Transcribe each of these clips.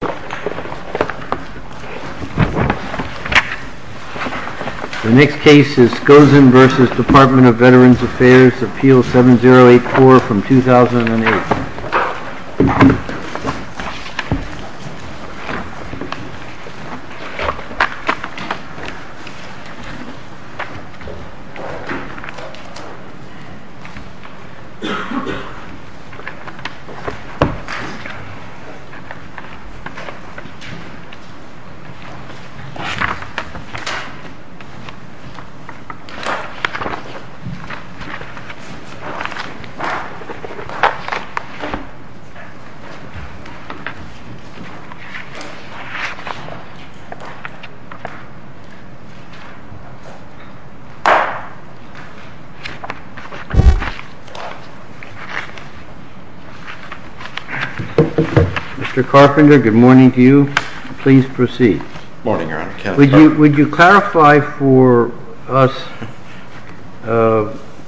The next case is Skoczen v. Department of Veterans Affairs, Appeal 7084 from 2008. Mr. Carpenter, good morning. Good morning, Your Honor. Would you clarify for us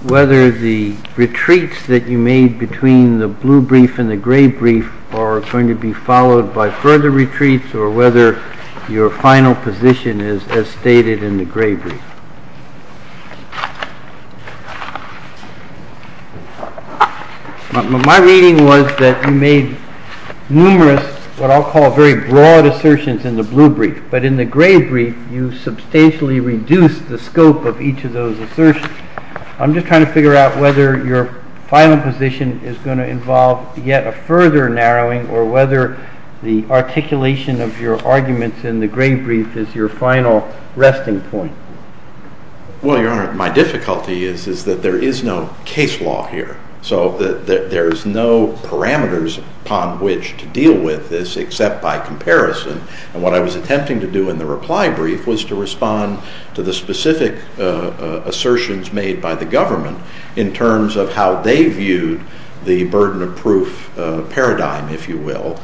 whether the retreats that you made between the blue brief and the gray brief are going to be followed by further retreats, or whether your final position is as stated in the gray brief? My reading was that you made numerous, what I'll call very broad assertions in the blue brief, but in the gray brief you substantially reduced the scope of each of those assertions. I'm just trying to figure out whether your final position is going to involve yet a further narrowing, or whether the articulation of your arguments in the gray brief is your final resting point. Well, Your Honor, my difficulty is that there is no case law here, so there's no parameters upon which to deal with this except by comparison. And what I was attempting to do in the reply brief was to respond to the specific assertions made by the government in terms of how they viewed the burden of proof paradigm, if you will,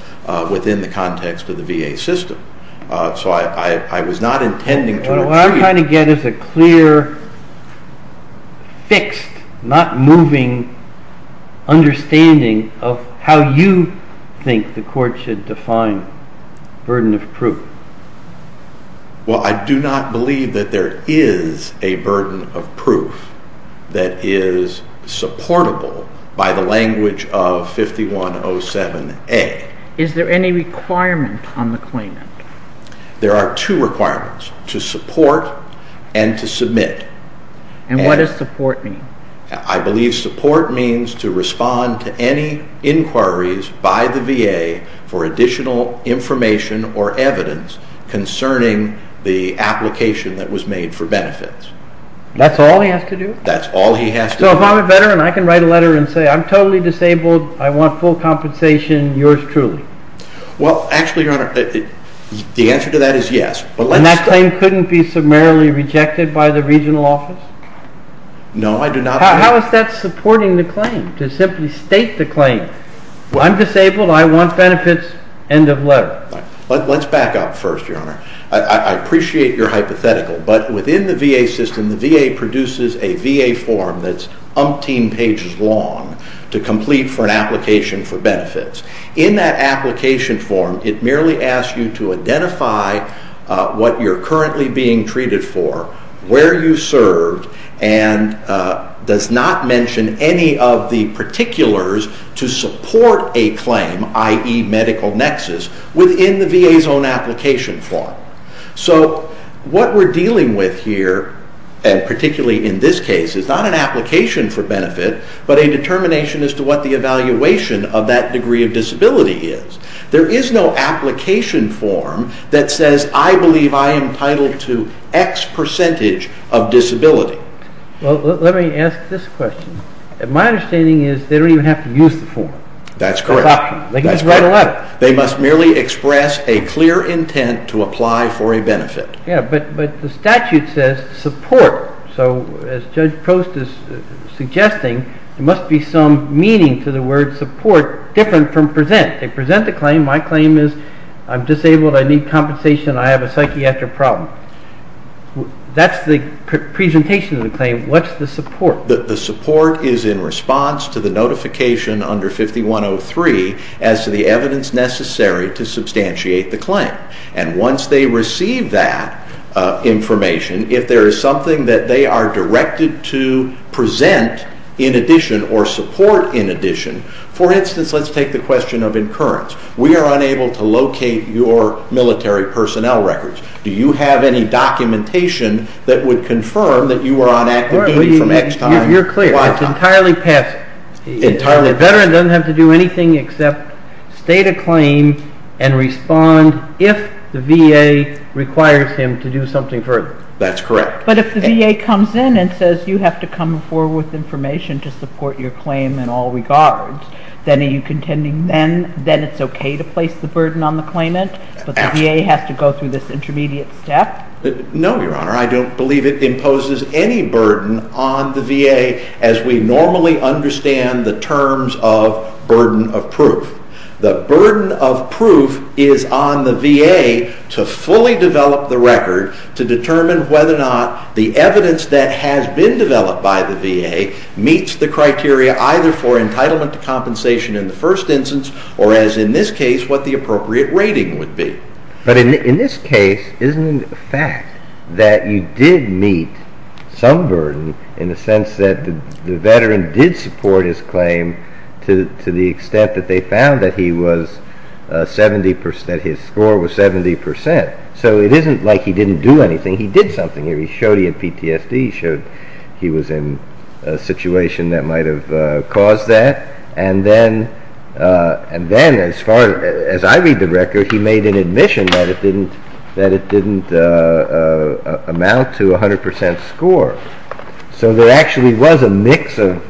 within the context of the VA system. So I was not intending to retreat. What I'm trying to get is a clear, fixed, not moving understanding of how you think the court should define burden of proof. Well, I do not believe that there is a burden of proof that is supportable by the language of 5107A. Is there any requirement on the claimant? There are two requirements, to support and to submit. And what does support mean? I believe support means to respond to any inquiries by the VA for additional information or evidence concerning the application that was made for benefits. That's all he has to do? That's all he has to do. So if I'm a veteran, I can write a letter and say I'm totally disabled, I want full compensation, yours truly? Well, actually, Your Honor, the answer to that is yes. And that claim couldn't be summarily rejected by the regional office? No, I do not. How is that supporting the claim, to simply state the claim? I'm disabled, I want benefits, end of letter. Let's back up first, Your Honor. I appreciate your hypothetical, but within the VA system, the VA produces a VA form that's umpteen pages long to complete for an application for benefits. In that application form, it merely asks you to identify what you're currently being treated for, where you served, and does not mention any of the particulars to support a claim, i.e., medical nexus, within the VA's own application form. So what we're dealing with here, and particularly in this case, is not an application for benefit, but a determination as to what the evaluation of that degree of disability is. There is no application form that says I believe I am entitled to X percentage of disability. Well, let me ask this question. My understanding is they don't even have to use the form. That's correct. They can just write a letter. They must merely express a clear intent to apply for a benefit. Yeah, but the statute says support. So as Judge Post is suggesting, there must be some meaning to the word support different from present. They present the claim. My claim is I'm disabled, I need compensation, I have a psychiatric problem. That's the presentation of the claim. What's the support? The support is in response to the notification under 5103 as to the evidence necessary to substantiate the claim. And once they receive that information, if there is something that they are directed to present in addition or support in addition, for instance, let's take the question of incurrence. We are unable to locate your military personnel records. Do you have any documentation that would confirm that you were on active duty from X time to Y time? You're clear. It's entirely passive. The veteran doesn't have to do anything except state a claim and respond if the VA requires him to do something further. That's correct. But if the VA comes in and says you have to come forward with information to support your claim in all regards, then are you contending then it's okay to place the burden on the claimant, but the VA has to go through this intermediate step? No, Your Honor. I don't believe it imposes any burden on the VA as we normally understand the terms of burden of proof. The burden of proof is on the VA to fully develop the record to determine whether or not the evidence that has been developed by the VA meets the criteria either for entitlement to compensation in the first instance or, as in this case, what the appropriate rating would be. But in this case, isn't it a fact that you did meet some burden in the sense that the veteran did support his claim to the extent that they found that his score was 70 percent? So it isn't like he didn't do anything. He did something. He showed he had PTSD. He showed he was in a situation that might have caused that. And then, as far as I read the record, he made an admission that it didn't amount to 100 percent score. So there actually was a mix of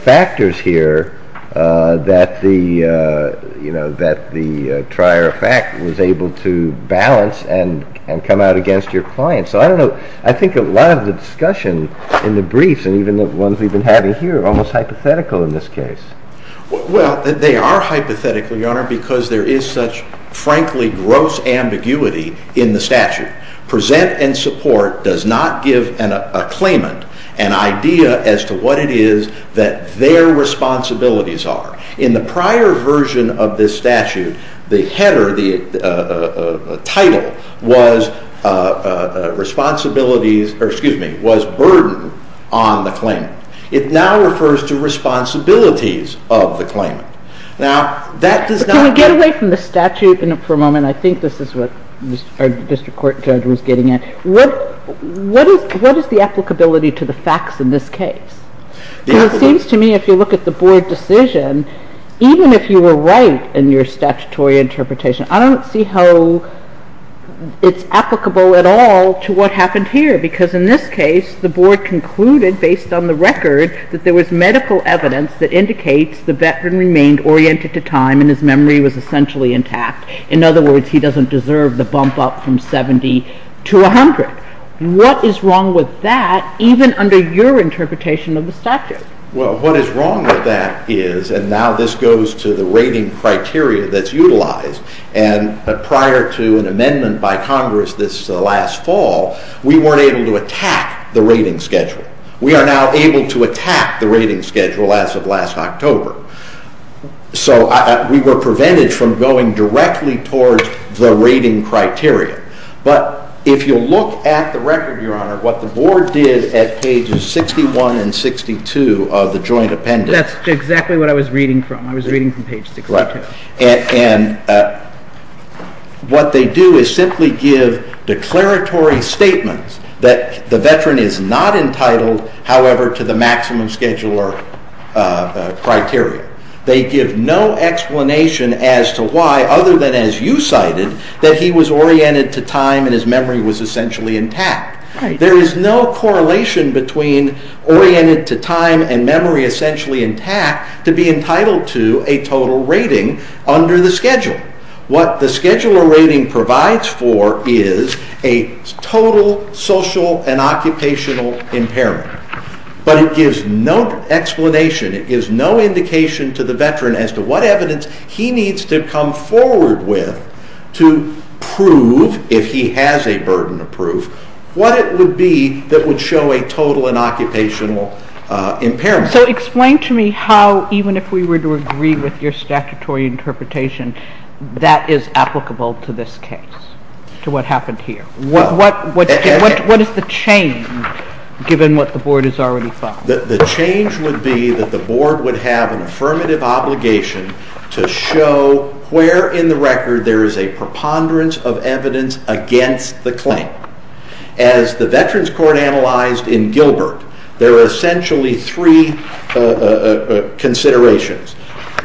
factors here that the trier of fact was able to balance and come out against your client. So I don't know. I think a lot of the discussion in the briefs and even the ones we've been having here are almost hypothetical in this case. Well, they are hypothetical, Your Honor, because there is such, frankly, gross ambiguity in the statute. Present and support does not give a claimant an idea as to what it is that their responsibilities are. In the prior version of this statute, the header, the title was burden on the claimant. It now refers to responsibilities of the claimant. Now, that does not... Can we get away from the statute for a moment? I think this is what our district court judge was getting at. What is the applicability to the facts in this case? It seems to me, if you look at the board decision, even if you were right in your statutory interpretation, I don't see how it's applicable at all to what happened here because, in this case, the board concluded, based on the record, that there was medical evidence that indicates the veteran remained oriented to time and his memory was essentially intact. In other words, he doesn't deserve the bump up from 70 to 100. What is wrong with that, even under your interpretation of the statute? Well, what is wrong with that is, and now this goes to the rating criteria that's utilized, and prior to an amendment by Congress this last fall, we weren't able to attack the rating schedule. We are now able to attack the rating schedule as of last October. So we were prevented from going directly towards the rating criteria. But if you look at the record, Your Honor, what the board did at pages 61 and 62 of the joint appendix. That's exactly what I was reading from. I was reading from page 62. And what they do is simply give declaratory statements that the veteran is not entitled, however, to the maximum scheduler criteria. They give no explanation as to why, other than as you cited, that he was oriented to time and his memory was essentially intact. There is no correlation between oriented to time and memory essentially intact to be entitled to a total rating under the schedule. What the scheduler rating provides for is a total social and occupational impairment. But it gives no explanation, it gives no indication to the veteran as to what evidence he needs to come forward with to prove, if he has a burden of proof, what it would be that would show a total and occupational impairment. So explain to me how, even if we were to agree with your statutory interpretation, that is applicable to this case, to what happened here. What is the change, given what the board has already found? The change would be that the board would have an affirmative obligation to show where in the record there is a preponderance of evidence against the claim. As the Veterans Court analyzed in Gilbert, there are essentially three considerations.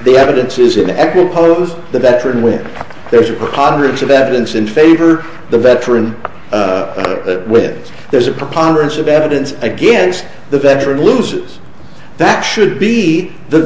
The evidence is in equipoise, the veteran wins. There is a preponderance of evidence in favor, the veteran wins. There is a preponderance of evidence against, the veteran loses. That should be the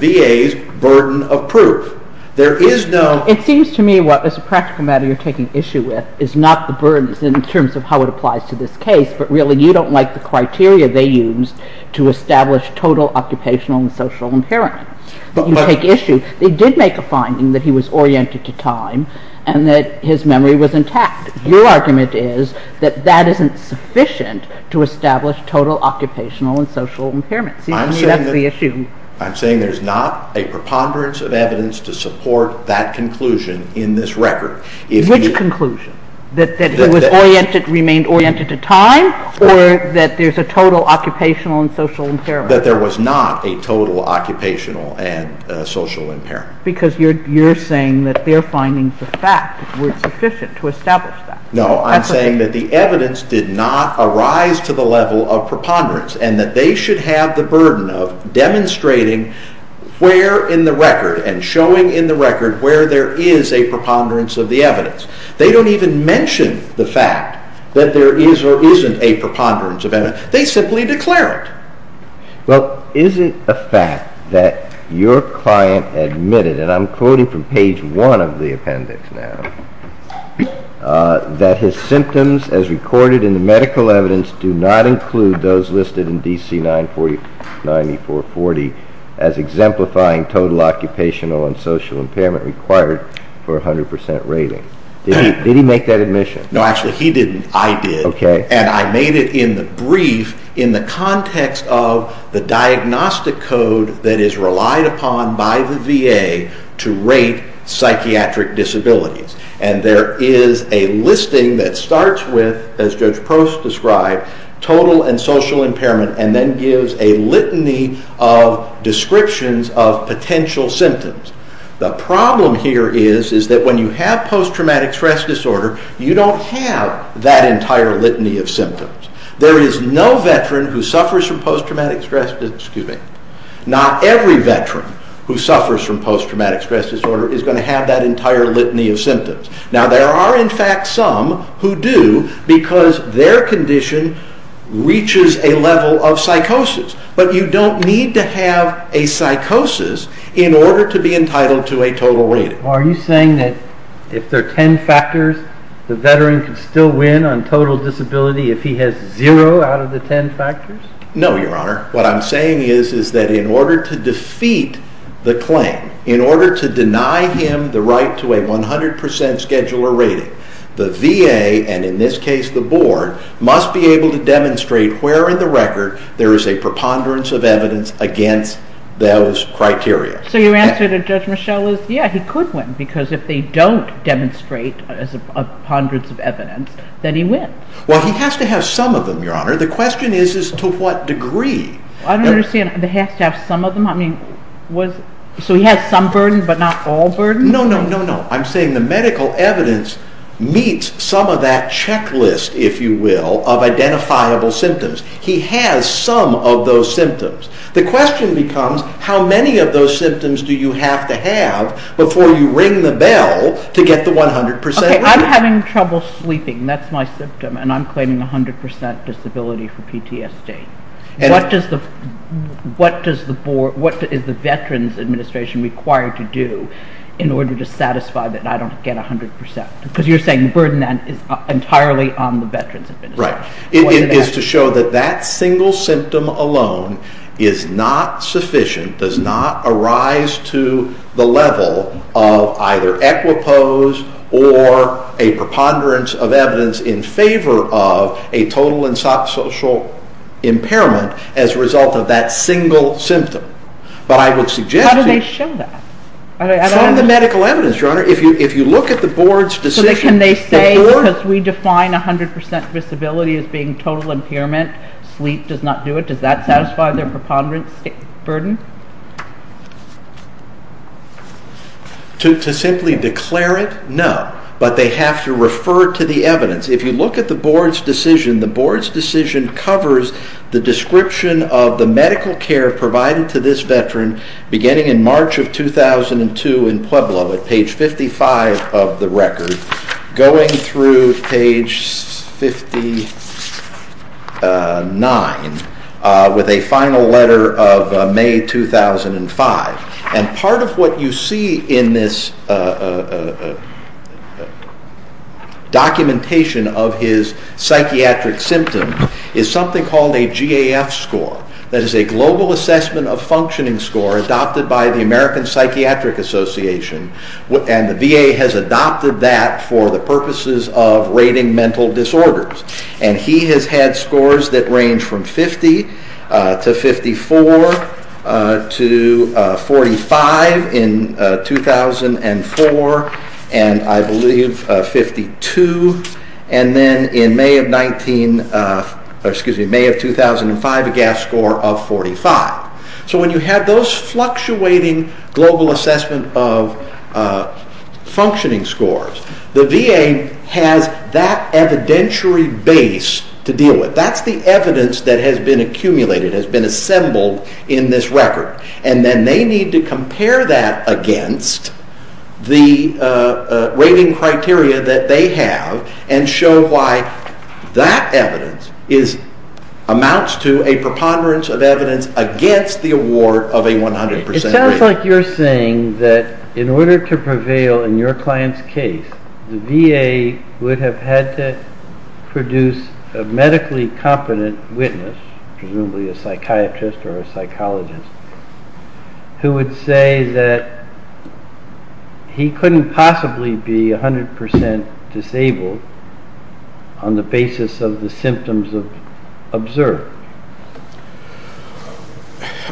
VA's burden of proof. It seems to me what, as a practical matter, you are taking issue with is not the burden in terms of how it applies to this case, but really you don't like the criteria they used to establish total occupational and social impairment. They did make a finding that he was oriented to time and that his memory was intact. Your argument is that that isn't sufficient to establish total occupational and social impairment. I'm saying there is not a preponderance of evidence to support that conclusion in this record. Which conclusion? That he remained oriented to time or that there is a total occupational and social impairment? That there was not a total occupational and social impairment. Because you're saying that their findings of fact were sufficient to establish that. No, I'm saying that the evidence did not arise to the level of preponderance and that they should have the burden of demonstrating where in the record and showing in the record where there is a preponderance of the evidence. They don't even mention the fact that there is or isn't a preponderance of evidence. They simply declare it. Well, isn't the fact that your client admitted, and I'm quoting from page 1 of the appendix now, that his symptoms as recorded in the medical evidence do not include those listed in DC 944-9440 as exemplifying total occupational and social impairment required for a 100% rating. Did he make that admission? No, actually he didn't. I did. And I made it in the brief in the context of the diagnostic code that is relied upon by the VA to rate psychiatric disabilities. And there is a listing that starts with, as Judge Prost described, total and social impairment and then gives a litany of descriptions of potential symptoms. The problem here is that when you have post-traumatic stress disorder, you don't have that entire litany of symptoms. There is no veteran who suffers from post-traumatic stress disorder. Not every veteran who suffers from post-traumatic stress disorder is going to have that entire litany of symptoms. Now, there are in fact some who do because their condition reaches a level of psychosis, but you don't need to have a psychosis in order to be entitled to a total rating. Are you saying that if there are ten factors, the veteran can still win on total disability if he has zero out of the ten factors? No, Your Honor. What I'm saying is that in order to defeat the claim, in order to deny him the right to a 100% scheduler rating, the VA, and in this case the board, must be able to demonstrate where in the record there is a preponderance of evidence against those criteria. So your answer to Judge Michel is, yeah, he could win, because if they don't demonstrate a preponderance of evidence, then he wins. Well, he has to have some of them, Your Honor. The question is, to what degree? I don't understand. He has to have some of them? So he has some burden, but not all burden? No, no, no. I'm saying the medical evidence meets some of that checklist, if you will, of identifiable symptoms. He has some of those symptoms. The question becomes, how many of those symptoms do you have to have before you ring the bell to get the 100% rating? Okay, I'm having trouble sleeping. That's my symptom, and I'm claiming 100% disability for PTSD. What is the Veterans Administration required to do in order to satisfy that I don't get 100%? Because you're saying the burden is entirely on the Veterans Administration. Right. It is to show that that single symptom alone is not sufficient, does not arise to the level of either equipoise or a preponderance of evidence in favor of a total and subsocial impairment as a result of that single symptom. But I would suggest to you— How do they show that? From the medical evidence, Your Honor. If you look at the Board's decision— disability as being total impairment, sleep does not do it— does that satisfy their preponderance burden? To simply declare it? No. But they have to refer to the evidence. If you look at the Board's decision, the Board's decision covers the description of the medical care provided to this Veteran beginning in March of 2002 in Pueblo, at page 55 of the record, going through page 59 with a final letter of May 2005. And part of what you see in this documentation of his psychiatric symptom is something called a GAF score. That is a Global Assessment of Functioning score adopted by the American Psychiatric Association. And the VA has adopted that for the purposes of rating mental disorders. And he has had scores that range from 50 to 54 to 45 in 2004, and I believe 52. And then in May of 2005, a GAF score of 45. So when you have those fluctuating Global Assessment of Functioning scores, the VA has that evidentiary base to deal with. That's the evidence that has been accumulated, has been assembled in this record. And then they need to compare that against the rating criteria that they have and show why that evidence amounts to a preponderance of evidence against the award of a 100% rating. It sounds like you're saying that in order to prevail in your client's case, the VA would have had to produce a medically competent witness, presumably a psychiatrist or a psychologist, who would say that he couldn't possibly be 100% disabled on the basis of the symptoms observed.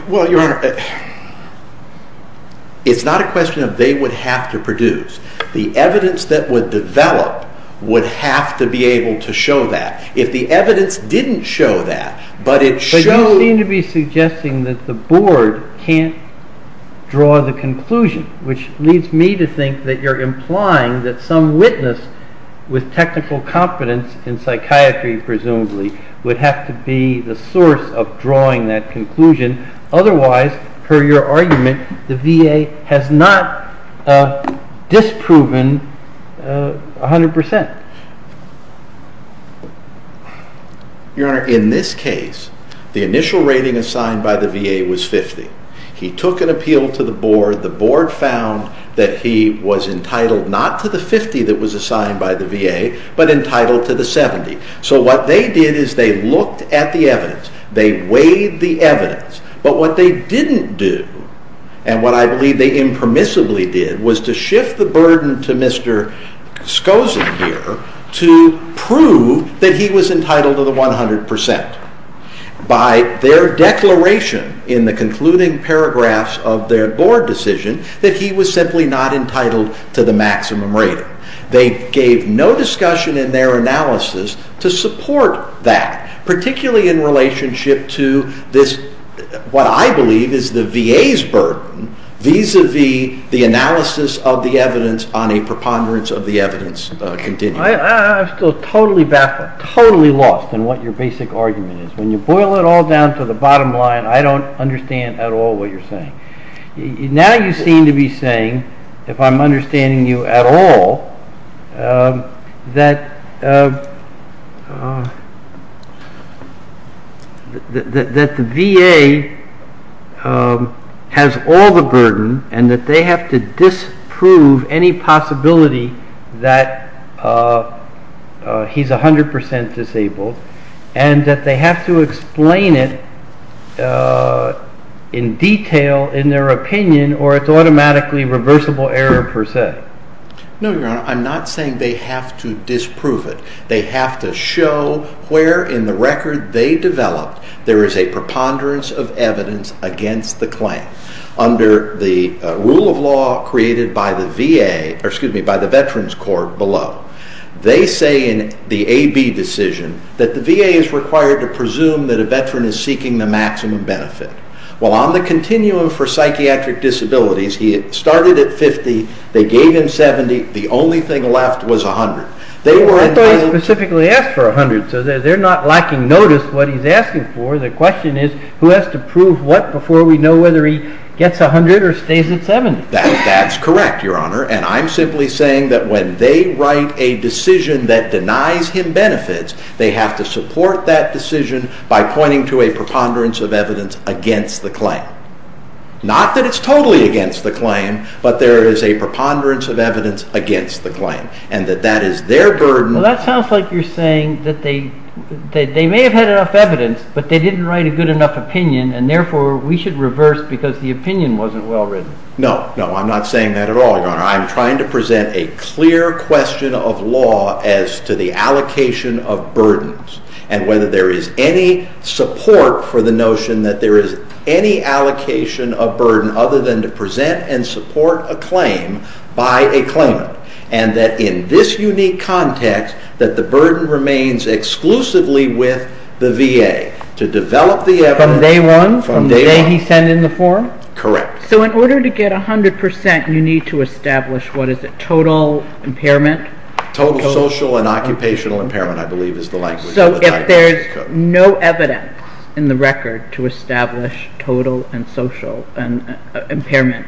Well, Your Honor, it's not a question of they would have to produce. The evidence that would develop would have to be able to show that. If the evidence didn't show that, but it showed... the board can't draw the conclusion, which leads me to think that you're implying that some witness with technical competence in psychiatry, presumably, would have to be the source of drawing that conclusion. Otherwise, per your argument, the VA has not disproven 100%. Your Honor, in this case, the initial rating assigned by the VA was 50. He took an appeal to the board. The board found that he was entitled not to the 50 that was assigned by the VA, but entitled to the 70. So what they did is they looked at the evidence. They weighed the evidence. But what they didn't do, and what I believe they impermissibly did, was to shift the burden to Mr. Skozin here to prove that he was entitled to the 100%. By their declaration in the concluding paragraphs of their board decision that he was simply not entitled to the maximum rating. They gave no discussion in their analysis to support that, particularly in relationship to what I believe is the VA's burden, vis-a-vis the analysis of the evidence on a preponderance of the evidence continuum. I'm still totally baffled, totally lost in what your basic argument is. When you boil it all down to the bottom line, I don't understand at all what you're saying. Now you seem to be saying, if I'm understanding you at all, that the VA has all the burden and that they have to disprove any possibility that he's 100% disabled, and that they have to explain it in detail in their opinion or it's automatically reversible error per se. No, Your Honor. I'm not saying they have to disprove it. They have to show where in the record they developed there is a preponderance of evidence against the claim. Under the rule of law created by the Veterans Court below, they say in the AB decision that the VA is required to presume that a veteran is seeking the maximum benefit. Well, on the continuum for psychiatric disabilities, he started at 50, they gave him 70, the only thing left was 100. I thought he specifically asked for 100, so they're not lacking notice what he's asking for. The question is who has to prove what before we know whether he gets 100 or stays at 70. That's correct, Your Honor, and I'm simply saying that when they write a decision that denies him benefits, they have to support that decision by pointing to a preponderance of evidence against the claim. Not that it's totally against the claim, but there is a preponderance of evidence against the claim, and that that is their burden. Well, that sounds like you're saying that they may have had enough evidence, but they didn't write a good enough opinion, and therefore we should reverse because the opinion wasn't well written. No, no, I'm not saying that at all, Your Honor. I'm trying to present a clear question of law as to the allocation of burdens and whether there is any support for the notion that there is any allocation of burden other than to present and support a claim by a claimant, and that in this unique context that the burden remains exclusively with the VA. From day one, from the day he sent in the form? Correct. So in order to get 100 percent, you need to establish what is it, total impairment? Total social and occupational impairment, I believe, is the language. So if there's no evidence in the record to establish total and social impairment,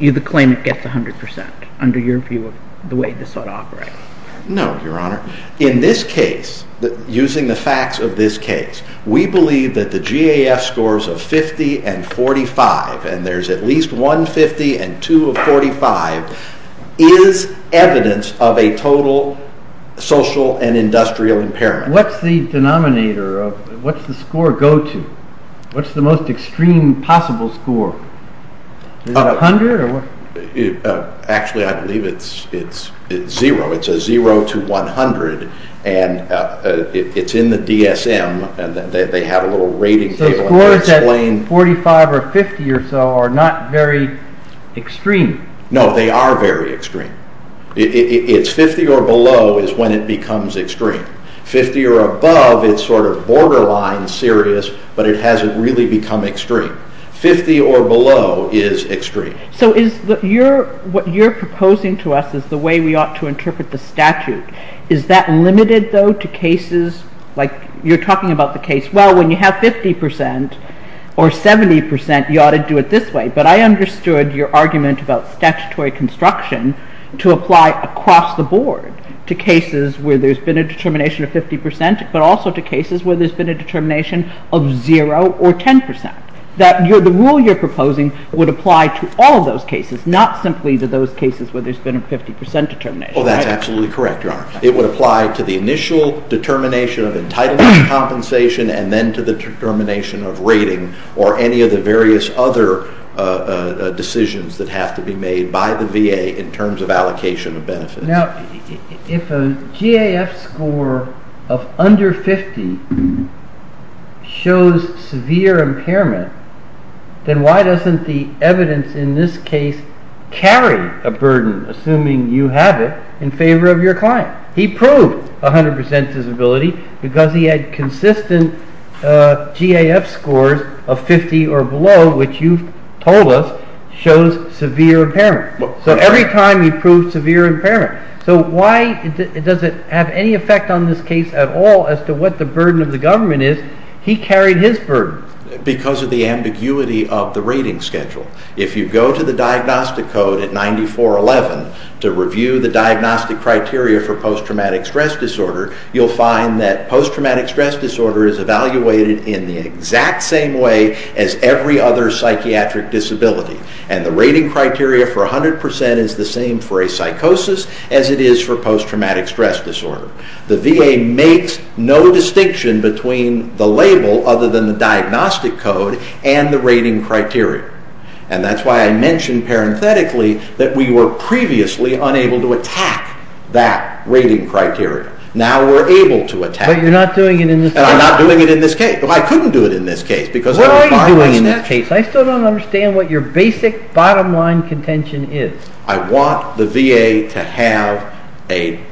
the claimant gets 100 percent under your view of the way this ought to operate? No, Your Honor. In this case, using the facts of this case, we believe that the GAF scores of 50 and 45, and there's at least one 50 and two of 45, is evidence of a total social and industrial impairment. What's the denominator? What's the score go to? What's the most extreme possible score? Is it 100? Actually, I believe it's zero. It's a zero to 100, and it's in the DSM, and they have a little rating table. The scores at 45 or 50 or so are not very extreme. No, they are very extreme. It's 50 or below is when it becomes extreme. 50 or above, it's sort of borderline serious, but it hasn't really become extreme. 50 or below is extreme. So what you're proposing to us is the way we ought to interpret the statute. Is that limited, though, to cases like you're talking about the case, well, when you have 50 percent or 70 percent, you ought to do it this way. But I understood your argument about statutory construction to apply across the board to cases where there's been a determination of 50 percent, but also to cases where there's been a determination of zero or 10 percent. The rule you're proposing would apply to all of those cases, not simply to those cases where there's been a 50 percent determination. Oh, that's absolutely correct, Your Honor. It would apply to the initial determination of entitlement compensation and then to the determination of rating or any of the various other decisions that have to be made by the VA in terms of allocation of benefits. Now, if a GAF score of under 50 shows severe impairment, then why doesn't the evidence in this case carry a burden, assuming you have it, in favor of your client? He proved 100 percent disability because he had consistent GAF scores of 50 or below, which you've told us shows severe impairment. So every time he proved severe impairment. So why does it have any effect on this case at all as to what the burden of the government is? He carried his burden. Because of the ambiguity of the rating schedule. If you go to the diagnostic code at 9411 to review the diagnostic criteria for post-traumatic stress disorder, you'll find that post-traumatic stress disorder is evaluated in the exact same way as every other psychiatric disability. And the rating criteria for 100 percent is the same for a psychosis as it is for post-traumatic stress disorder. The VA makes no distinction between the label other than the diagnostic code and the rating criteria. And that's why I mentioned parenthetically that we were previously unable to attack that rating criteria. Now we're able to attack it. But you're not doing it in this case. And I'm not doing it in this case. Well, I couldn't do it in this case. What are you doing in this case? In that case, I still don't understand what your basic bottom line contention is. I want the VA to have a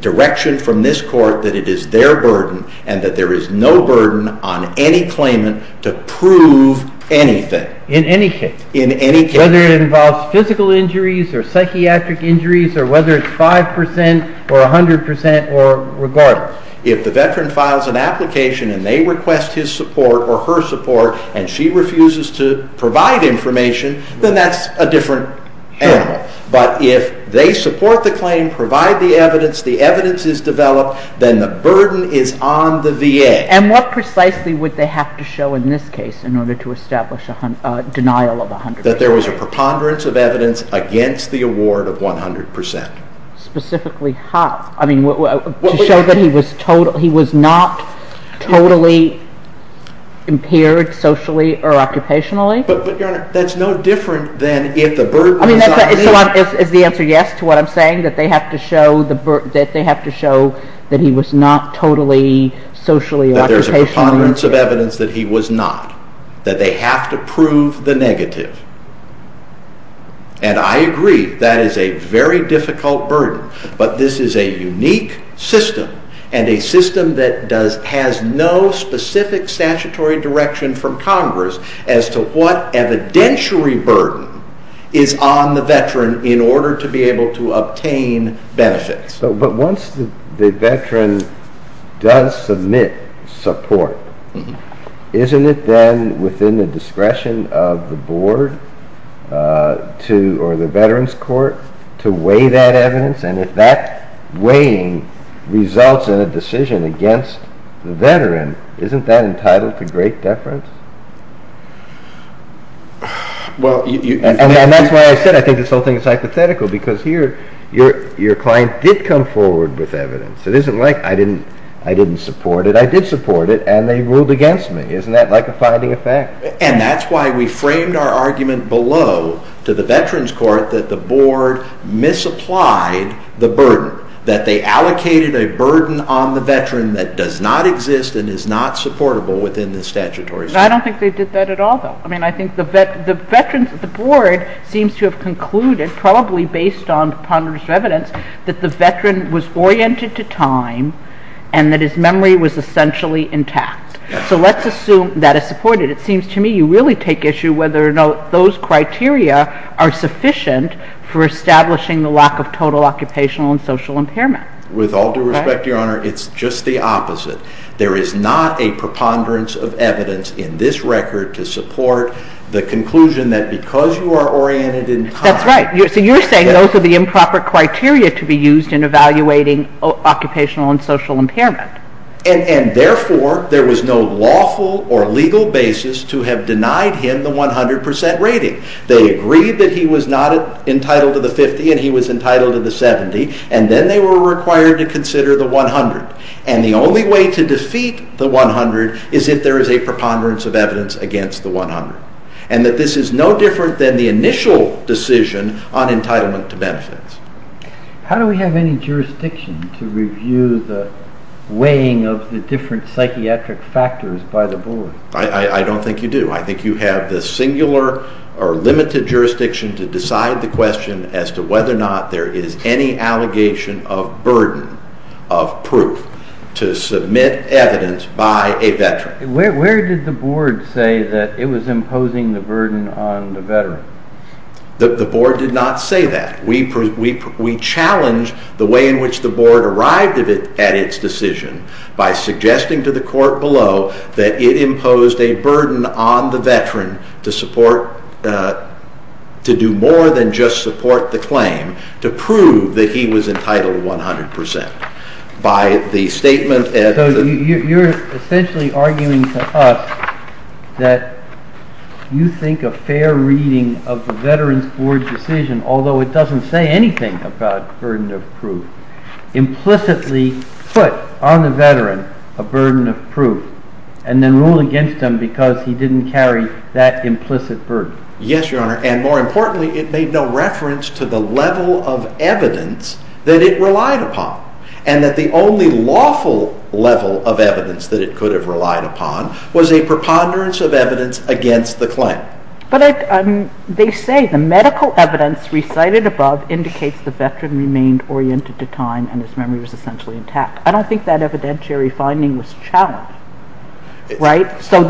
direction from this court that it is their burden and that there is no burden on any claimant to prove anything. In any case? In any case. Whether it involves physical injuries or psychiatric injuries or whether it's 5 percent or 100 percent or regardless? If the veteran files an application and they request his support or her support and she refuses to provide information, then that's a different animal. But if they support the claim, provide the evidence, the evidence is developed, then the burden is on the VA. And what precisely would they have to show in this case in order to establish a denial of 100 percent? That there was a preponderance of evidence against the award of 100 percent. Specifically how? I mean, to show that he was not totally impaired socially or occupationally? But, Your Honor, that's no different than if the burden is on me. Is the answer yes to what I'm saying? That they have to show that he was not totally socially or occupationally impaired? That there's a preponderance of evidence that he was not. That they have to prove the negative. And I agree that is a very difficult burden, but this is a unique system and a system that has no specific statutory direction from Congress as to what evidentiary burden is on the veteran in order to be able to obtain benefits. But once the veteran does submit support, isn't it then within the discretion of the board or the veteran's court to weigh that evidence? And if that weighing results in a decision against the veteran, isn't that entitled to great deference? And that's why I said I think this whole thing is hypothetical because here your client did come forward with evidence. It isn't like I didn't support it. But I did support it, and they ruled against me. Isn't that like a finding of fact? And that's why we framed our argument below to the veteran's court that the board misapplied the burden, that they allocated a burden on the veteran that does not exist and is not supportable within the statutory system. I don't think they did that at all, though. I mean, I think the board seems to have concluded, probably based on preponderance of evidence, that the veteran was oriented to time and that his memory was essentially intact. So let's assume that is supported. It seems to me you really take issue whether or not those criteria are sufficient for establishing the lack of total occupational and social impairment. With all due respect, Your Honor, it's just the opposite. There is not a preponderance of evidence in this record to support the conclusion that because you are oriented in time... That's right. So you're saying those are the improper criteria to be used in evaluating occupational and social impairment. And therefore, there was no lawful or legal basis to have denied him the 100% rating. They agreed that he was not entitled to the 50% and he was entitled to the 70%, and then they were required to consider the 100%. And the only way to defeat the 100% is if there is a preponderance of evidence against the 100%. And that this is no different than the initial decision on entitlement to benefits. How do we have any jurisdiction to review the weighing of the different psychiatric factors by the board? I don't think you do. I think you have the singular or limited jurisdiction to decide the question as to whether or not there is any allegation of burden of proof to submit evidence by a veteran. Where did the board say that it was imposing the burden on the veteran? The board did not say that. We challenge the way in which the board arrived at its decision by suggesting to the court below that it imposed a burden on the veteran to do more than just support the claim to prove that he was entitled to 100%. So you're essentially arguing to us that you think a fair reading of the veteran's board decision, although it doesn't say anything about burden of proof, implicitly put on the veteran a burden of proof and then ruled against him because he didn't carry that implicit burden. Yes, Your Honor. And more importantly, it made no reference to the level of evidence that it relied upon and that the only lawful level of evidence that it could have relied upon was a preponderance of evidence against the claim. But they say the medical evidence recited above indicates the veteran remained oriented to time and his memory was essentially intact. I don't think that evidentiary finding was challenged, right? So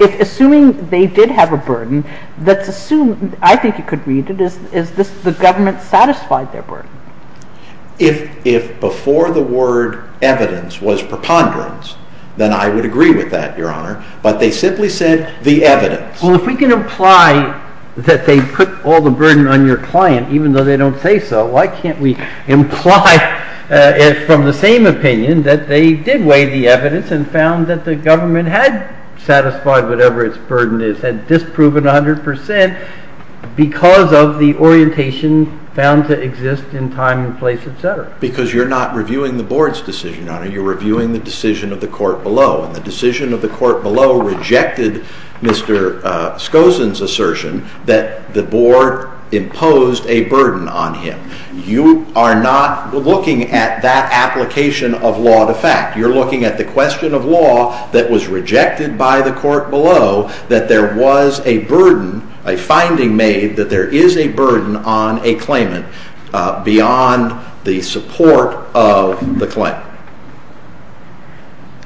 assuming they did have a burden, I think you could read it as the government satisfied their burden. If before the word evidence was preponderance, then I would agree with that, Your Honor, but they simply said the evidence. Well, if we can imply that they put all the burden on your client, even though they don't say so, why can't we imply from the same opinion that they did weigh the evidence and found that the government had satisfied whatever its burden is, had disproven 100% because of the orientation found to exist in time and place, etc. Because you're not reviewing the board's decision, Your Honor. You're reviewing the decision of the court below, and the decision of the court below rejected Mr. Skosin's assertion that the board imposed a burden on him. You are not looking at that application of law to fact. You're looking at the question of law that was rejected by the court below that there was a burden, a finding made, that there is a burden on a claimant beyond the support of the claimant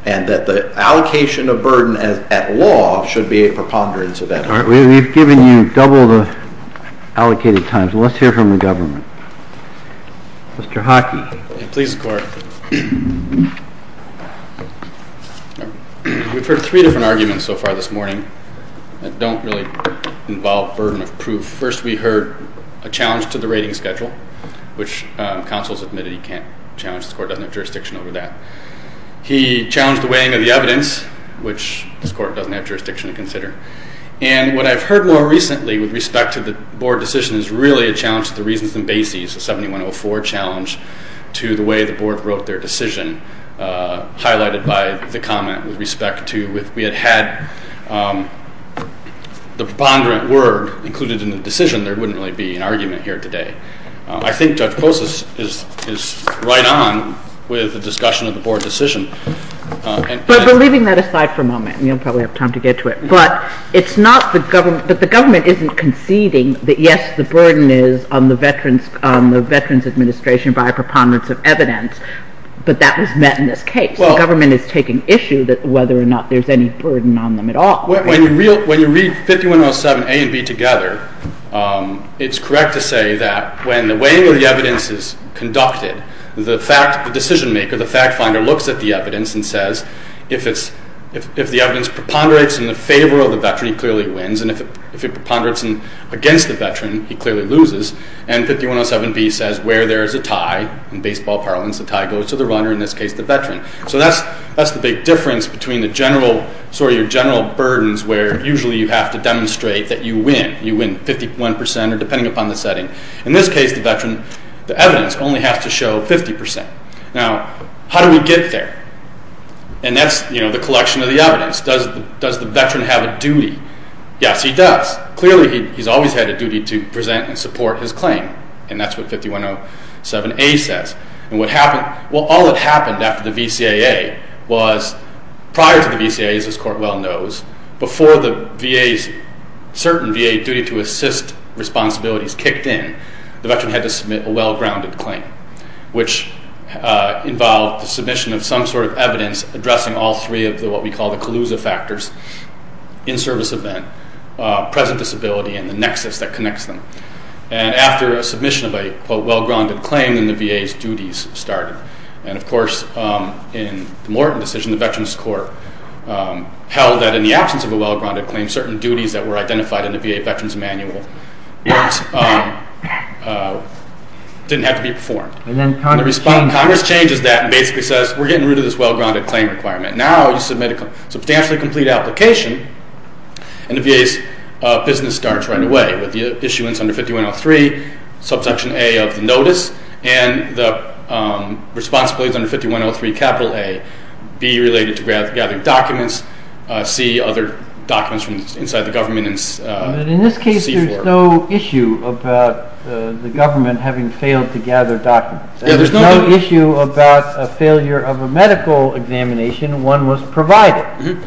and that the allocation of burden at law should be a preponderance of evidence. All right, we've given you double the allocated time, so let's hear from the government. Mr. Hockey. Please, Court. We've heard three different arguments so far this morning that don't really involve burden of proof. First, we heard a challenge to the rating schedule, which counsel has admitted he can't challenge. The court doesn't have jurisdiction over that. He challenged the weighing of the evidence, which this court doesn't have jurisdiction to consider. And what I've heard more recently with respect to the board decision is really a challenge to the reasons and bases, a 7104 challenge to the way the board wrote their decision, highlighted by the comment with respect to if we had had the preponderant word included in the decision, there wouldn't really be an argument here today. I think Judge Polis is right on with the discussion of the board decision. But leaving that aside for a moment, and you'll probably have time to get to it, but the government isn't conceding that, yes, the burden is on the Veterans Administration by a preponderance of evidence, but that was met in this case. The government is taking issue whether or not there's any burden on them at all. When you read 5107A and B together, it's correct to say that when the weighing of the evidence is conducted, the decision maker, the fact finder, looks at the evidence and says, if the evidence preponderates in the favor of the Veteran, he clearly wins, and if it preponderates against the Veteran, he clearly loses. And 5107B says where there is a tie, in baseball parlance, the tie goes to the runner, in this case the Veteran. So that's the big difference between your general burdens where usually you have to demonstrate that you win. You win 51% or depending upon the setting. In this case, the Veteran, the evidence only has to show 50%. Now, how do we get there? And that's, you know, the collection of the evidence. Does the Veteran have a duty? Yes, he does. Clearly he's always had a duty to present and support his claim, and that's what 5107A says. And what happened, well, all that happened after the VCAA was prior to the VCAA, as this court well knows, before the VA's certain VA duty to assist responsibilities kicked in, the Veteran had to submit a well-grounded claim, which involved the submission of some sort of evidence addressing all three of what we call the collusive factors, in-service event, present disability, and the nexus that connects them. And after a submission of a, quote, well-grounded claim, then the VA's duties started. And, of course, in the Morton decision, the Veterans Court held that in the absence of a well-grounded claim, certain duties that were identified in the VA Veteran's manual didn't have to be performed. And then Congress changes that and basically says, we're getting rid of this well-grounded claim requirement. Now you submit a substantially complete application, and the VA's business starts right away with the issuance under 5103, subsection A of the notice, and the responsibilities under 5103, capital A, B, related to gathering documents, C, other documents from inside the government, and C for... But in this case, there's no issue about the government having failed to gather documents. There's no issue about a failure of a medical examination. One was provided.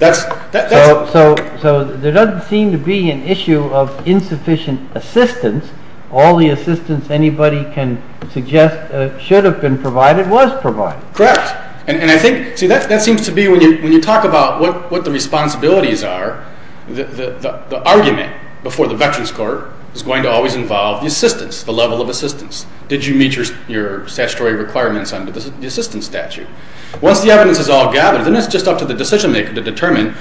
So there doesn't seem to be an issue of insufficient assistance, all the assistance anybody can suggest should have been provided was provided. Correct. And I think, see, that seems to be, when you talk about what the responsibilities are, the argument before the Veterans Court is going to always involve the assistance, the level of assistance. Did you meet your statutory requirements under the assistance statute? Once the evidence is all gathered, then it's just up to the decision-maker to determine,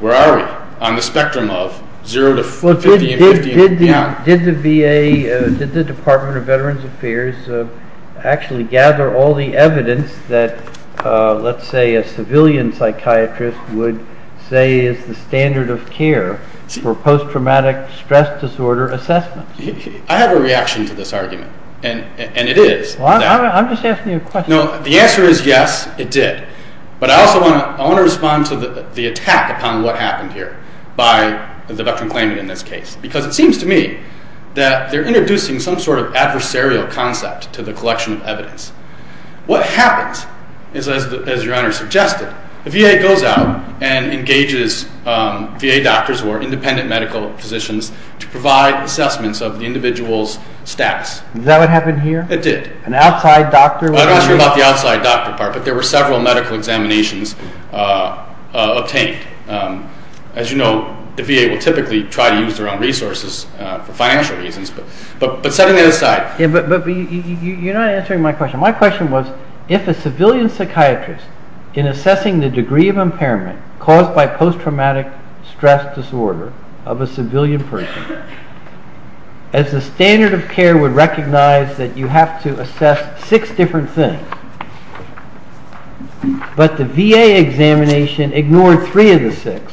where are we on the spectrum of 0 to 50 and 50 and beyond. Did the VA, did the Department of Veterans Affairs actually gather all the evidence that, let's say, a civilian psychiatrist would say is the standard of care for post-traumatic stress disorder assessment? I have a reaction to this argument, and it is. I'm just asking you a question. No, the answer is yes, it did. But I also want to respond to the attack upon what happened here by the veteran claimant in this case, because it seems to me that they're introducing some sort of adversarial concept to the collection of evidence. What happens is, as Your Honor suggested, the VA goes out and engages VA doctors or independent medical physicians to provide assessments of the individual's status. Is that what happened here? It did. An outside doctor? I'm not sure about the outside doctor part, but there were several medical examinations obtained. As you know, the VA will typically try to use their own resources for financial reasons, but setting that aside... But you're not answering my question. My question was, if a civilian psychiatrist, in assessing the degree of impairment caused by post-traumatic stress disorder of a civilian person, as the standard of care would recognize that you have to assess six different things, but the VA examination ignored three of the six,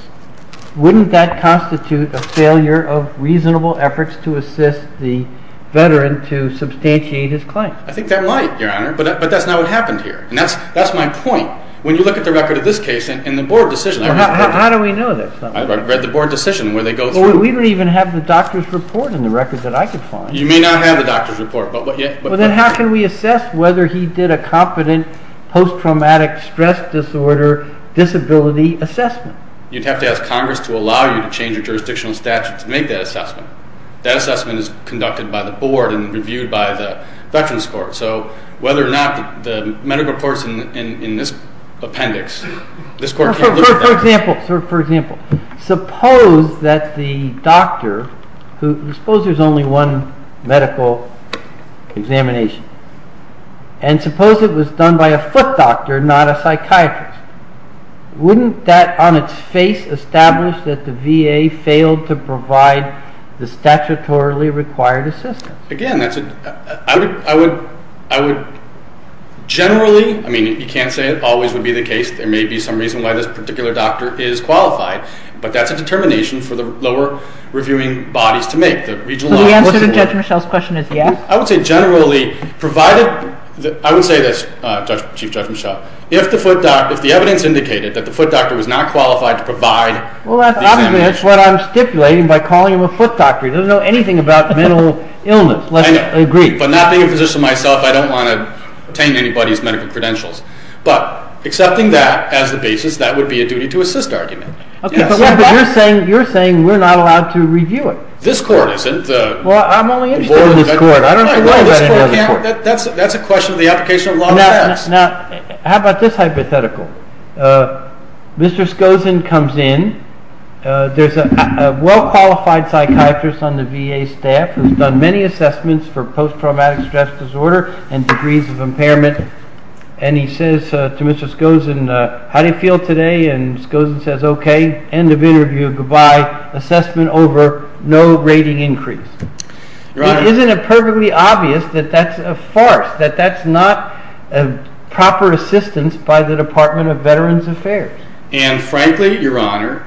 wouldn't that constitute a failure of reasonable efforts to assist the veteran to substantiate his claim? I think that might, Your Honor, but that's not what happened here. And that's my point. When you look at the record of this case and the board decision... How do we know this? I've read the board decision where they go through... We don't even have the doctor's report in the record that I could find. You may not have the doctor's report, but... Then how can we assess whether he did a competent post-traumatic stress disorder disability assessment? You'd have to ask Congress to allow you to change your jurisdictional statute to make that assessment. That assessment is conducted by the board and reviewed by the Veterans Court. So whether or not the medical reports in this appendix, this court can't look at that. For example, suppose that the doctor... And suppose it was done by a foot doctor, not a psychiatrist. Wouldn't that, on its face, establish that the VA failed to provide the statutorily required assistance? Again, that's a... I would generally... I mean, you can't say it always would be the case. There may be some reason why this particular doctor is qualified, but that's a determination for the lower reviewing bodies to make. So the answer to Judge Michelle's question is yes? I would say generally, provided... I would say this, Chief Judge Michelle, if the evidence indicated that the foot doctor was not qualified to provide... Well, that's what I'm stipulating by calling him a foot doctor. He doesn't know anything about mental illness. I know. Agreed. But not being a physician myself, I don't want to obtain anybody's medical credentials. But accepting that as the basis, that would be a duty-to-assist argument. But you're saying we're not allowed to review it. This court isn't. Well, I'm only interested in this court. I don't know anybody in this court. That's a question of the application of law and facts. Now, how about this hypothetical? Mr. Skozin comes in. There's a well-qualified psychiatrist on the VA staff who's done many assessments for post-traumatic stress disorder and degrees of impairment. And he says to Mr. Skozin, How do you feel today? And Skozin says, Okay. End of interview. Goodbye. Assessment over. No rating increase. Isn't it perfectly obvious that that's a farce, that that's not proper assistance by the Department of Veterans Affairs? And frankly, Your Honor,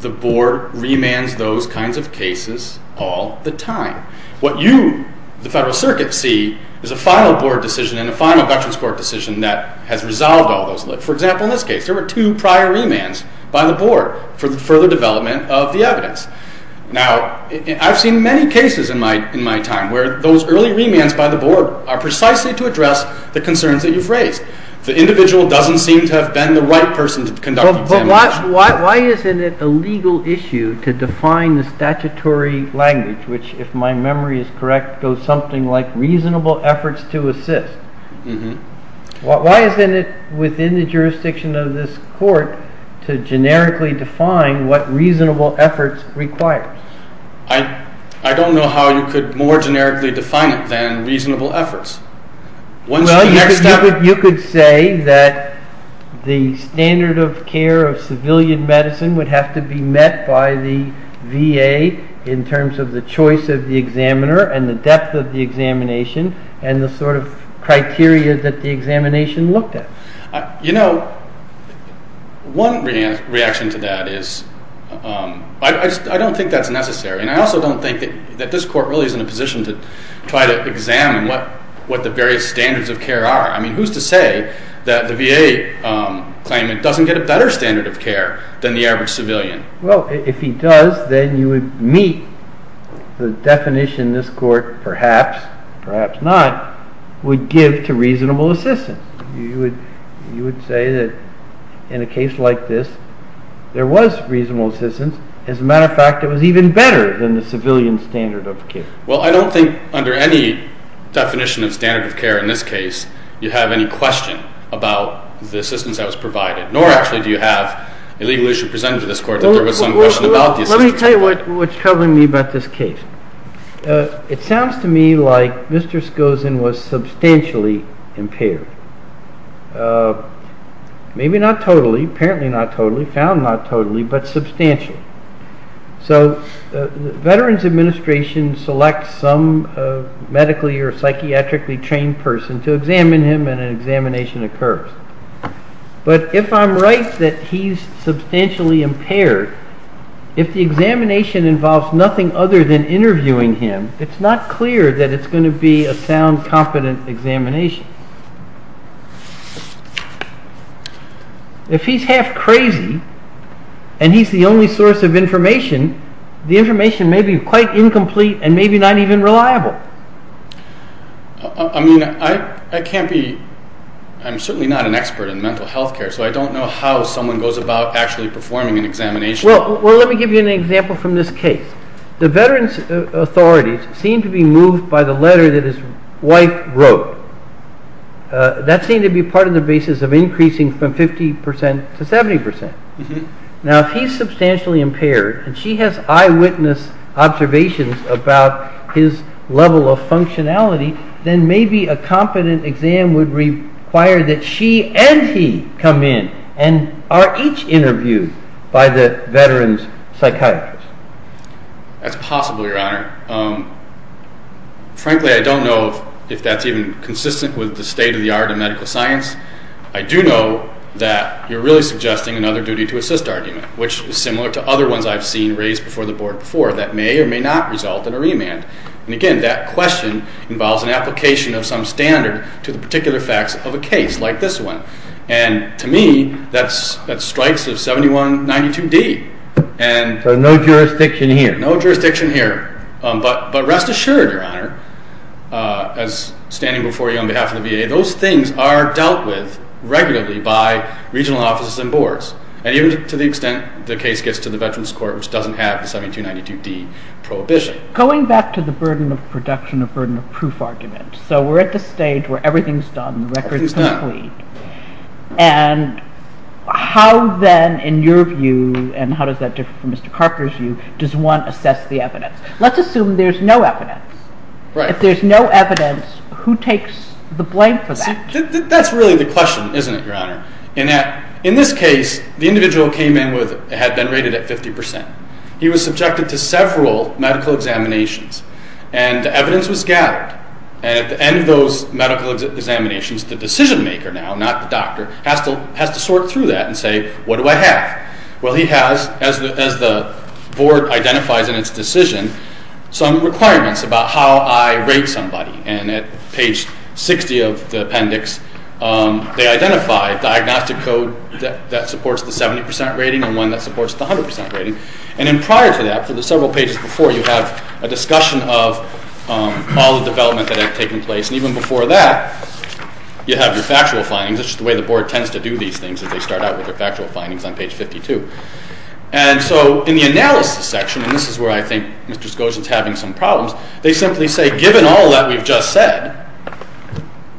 the board remands those kinds of cases all the time. What you, the Federal Circuit, see is a final board decision and a final Dutchess Court decision that has resolved all those. For example, in this case, there were two prior remands by the board for the further development of the evidence. Now, I've seen many cases in my time where those early remands by the board are precisely to address the concerns that you've raised. The individual doesn't seem to have been the right person to conduct the examination. But why isn't it a legal issue to define the statutory language, which, if my memory is correct, goes something like reasonable efforts to assist? Why isn't it within the jurisdiction of this court to generically define what reasonable efforts requires? I don't know how you could more generically define it than reasonable efforts. Well, you could say that the standard of care of civilian medicine would have to be met by the VA in terms of the choice of the examiner and the depth of the examination and the sort of criteria that the examination looked at. You know, one reaction to that is... I don't think that's necessary. And I also don't think that this court really is in a position to try to examine what the various standards of care are. I mean, who's to say that the VA claimant doesn't get a better standard of care than the average civilian? Well, if he does, then you would meet the definition this court perhaps, perhaps not, would give to reasonable assistance. You would say that in a case like this, there was reasonable assistance. As a matter of fact, it was even better than the civilian standard of care. Well, I don't think under any definition of standard of care in this case you have any question about the assistance that was provided, nor actually do you have a legal issue presented to this court that there was some question about the assistance. Let me tell you what's troubling me about this case. It sounds to me like Mr. Skozin was substantially impaired. Maybe not totally, apparently not totally, found not totally, but substantially. So the Veterans Administration selects some medically or psychiatrically trained person to examine him, and an examination occurs. But if I'm right that he's substantially impaired, if the examination involves nothing other than interviewing him, it's not clear that it's going to be a sound, competent examination. If he's half crazy, and he's the only source of information, the information may be quite incomplete and maybe not even reliable. I mean, I can't be... I'm certainly not an expert in mental health care, so I don't know how someone goes about actually performing an examination. Well, let me give you an example from this case. The Veterans Authority seemed to be moved by the letter that his wife wrote. That seemed to be part of the basis of increasing from 50% to 70%. Now, if he's substantially impaired, and she has eyewitness observations about his level of functionality, then maybe a competent exam would require that she and he come in and are each interviewed by the veteran's psychiatrist. That's possible, Your Honor. Frankly, I don't know if that's even consistent with the state-of-the-art in medical science. I do know that you're really suggesting another duty-to-assist argument, which is similar to other ones I've seen raised before the board before that may or may not result in a remand. And again, that question involves an application of some standard to the particular facts of a case like this one. And to me, that strikes a 7192D. So no jurisdiction here. No jurisdiction here. But rest assured, Your Honor, as standing before you on behalf of the VA, those things are dealt with regularly by regional offices and boards. And even to the extent the case gets to the Veterans Court, which doesn't have the 7292D prohibition. Going back to the burden of production, the burden of proof argument, so we're at the stage where everything's done, the record's complete. And how then, in your view, and how does that differ from Mr. Carpenter's view, does one assess the evidence? Let's assume there's no evidence. If there's no evidence, who takes the blame for that? That's really the question, isn't it, Your Honor? In this case, the individual came in with had been rated at 50%. He was subjected to several medical examinations. And evidence was gathered. And at the end of those medical examinations, the decision-maker now, not the doctor, has to sort through that and say, what do I have? Well, he has, as the board identifies in its decision, some requirements about how I rate somebody. And at page 60 of the appendix, they identify a diagnostic code that supports the 70% rating and one that supports the 100% rating. And then prior to that, for the several pages before, you have a discussion of all the development that had taken place. And even before that, you have your factual findings. That's just the way the board tends to do these things, is they start out with their factual findings on page 52. And so in the analysis section, and this is where I think Mr. Skoczyn's having some problems, they simply say, given all that we've just said,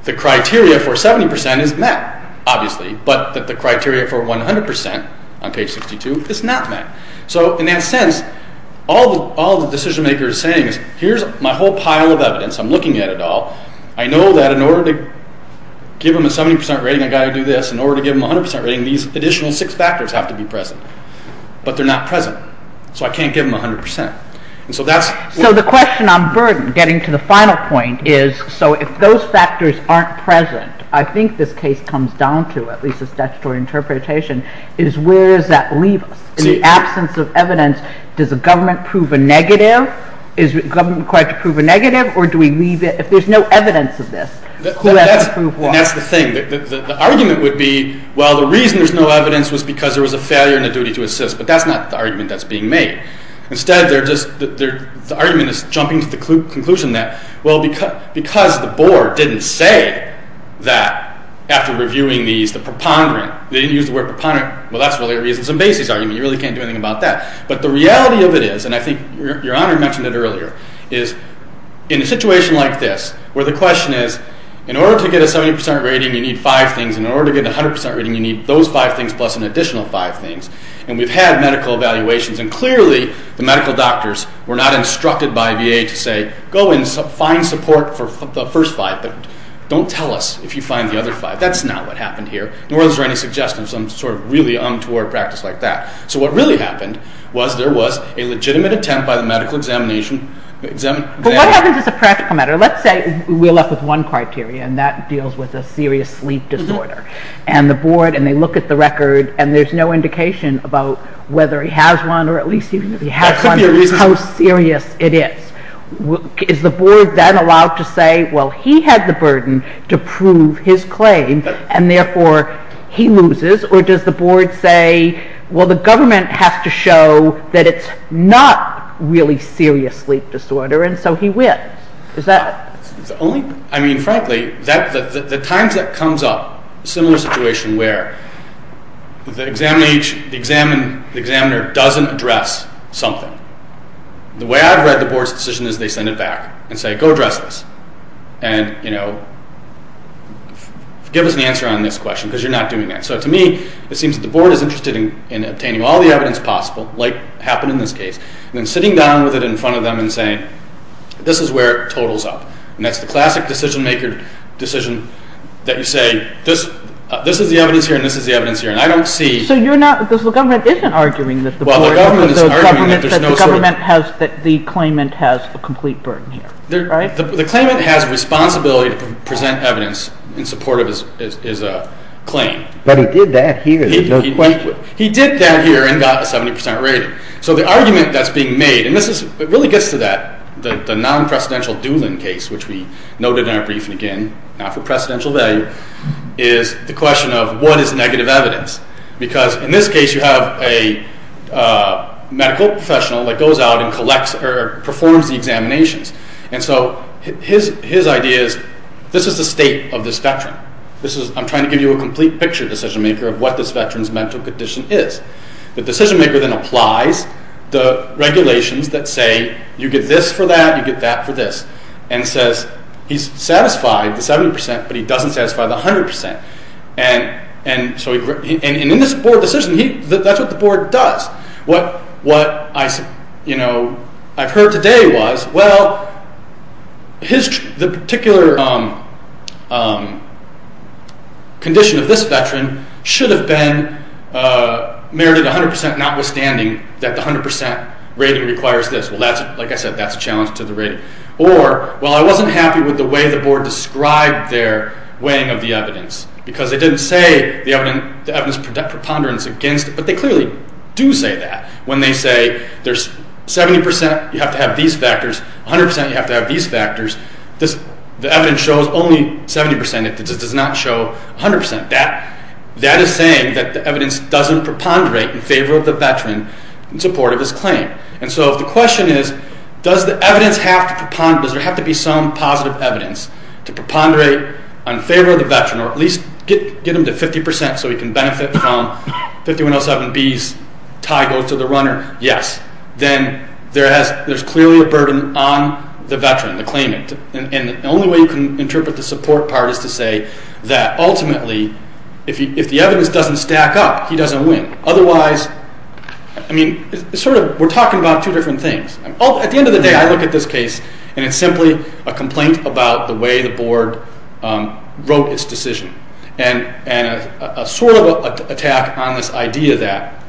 the criteria for 70% is met, obviously, but that the criteria for 100% on page 62 is not met. So in that sense, all the decision maker is saying is, here's my whole pile of evidence. I'm looking at it all. I know that in order to give them a 70% rating, I've got to do this. In order to give them a 100% rating, these additional six factors have to be present. But they're not present. So I can't give them 100%. And so that's... So the question on burden, getting to the final point, is so if those factors aren't present, I think this case comes down to, at least the statutory interpretation, is where does that leave us? In the absence of evidence, does the government prove a negative? Is the government required to prove a negative? Or do we leave it... If there's no evidence of this, who has to prove what? And that's the thing. The argument would be, well, the reason there's no evidence was because there was a failure in the duty to assist, but that's not the argument that's being made. Instead, they're just... The argument is jumping to the conclusion that, well, because the board didn't say that, after reviewing these, the preponderant, they didn't use the word preponderant, well, that's really a reasons and bases argument. You really can't do anything about that. But the reality of it is, and I think Your Honor mentioned it earlier, is in a situation like this, where the question is, in order to get a 70% rating, you need 5 things, and in order to get a 100% rating, you need those 5 things plus an additional 5 things. And we've had medical evaluations, and clearly the medical doctors were not instructed by VA to say, go and find support for the first 5, but don't tell us if you find the other 5. That's not what happened here, nor is there any suggestion of some sort of really untoward practice like that. So what really happened was, there was a legitimate attempt by the medical examination... But what happens as a practical matter? Let's say we're left with one criteria, and that deals with a serious sleep disorder. And the board, and they look at the record, and there's no indication about whether he has one, or at least he has one, or how serious it is. Is the board then allowed to say, well, he had the burden to prove his claim, and therefore he loses? Or does the board say, well, the government has to show that it's not really serious sleep disorder, and so he wins? I mean, frankly, the times that comes up, similar situation where the examiner doesn't address something, the way I've read the board's decision is they send it back and say, go address this, and give us an answer on this question, because you're not doing that. So to me, it seems that the board is interested in obtaining all the evidence possible, like happened in this case, and then sitting down with it in front of them and saying, this is where it totals up. And that's the classic decision-maker decision that you say, this is the evidence here, and this is the evidence here, and I don't see... So the government isn't arguing that the board... Well, the government is arguing that there's no sort of... ...that the claimant has a complete burden here, right? The claimant has responsibility to present evidence in support of his claim. But he did that here. He did that here and got a 70% rating. So the argument that's being made, and it really gets to that, the non-presidential Doolin case, which we noted in our brief, and again, not for presidential value, is the question of what is negative evidence? Because in this case, you have a medical professional that goes out and performs the examinations, and so his idea is, this is the state of this veteran. I'm trying to give you a complete picture, decision-maker, of what this veteran's mental condition is. The decision-maker then applies the regulations that say, you get this for that, you get that for this, and says he's satisfied, the 70%, but he doesn't satisfy the 100%. And in this board decision, that's what the board does. What I've heard today was, well, the particular condition of this veteran should have been merited 100%, notwithstanding that the 100% rating requires this. Well, like I said, that's a challenge to the rating. Or, well, I wasn't happy with the way the board described their weighing of the evidence, because they didn't say the evidence preponderance against it, but they clearly do say that. When they say, there's 70%, you have to have these factors, 100%, you have to have these factors, the evidence shows only 70%. It does not show 100%. That is saying that the evidence doesn't preponderate in favor of the veteran in support of his claim. And so the question is, does the evidence have to preponderate, does there have to be some positive evidence to preponderate in favor of the veteran, or at least get him to 50% so he can benefit from 5107B's tie go to the runner? Yes. Then there's clearly a burden on the veteran, the claimant. And the only way you can interpret the support part is to say that ultimately, if the evidence doesn't stack up, he doesn't win. Otherwise, I mean, we're talking about two different things. At the end of the day, I look at this case, and it's simply a complaint about the way the board wrote its decision. And a sort of attack on this idea that,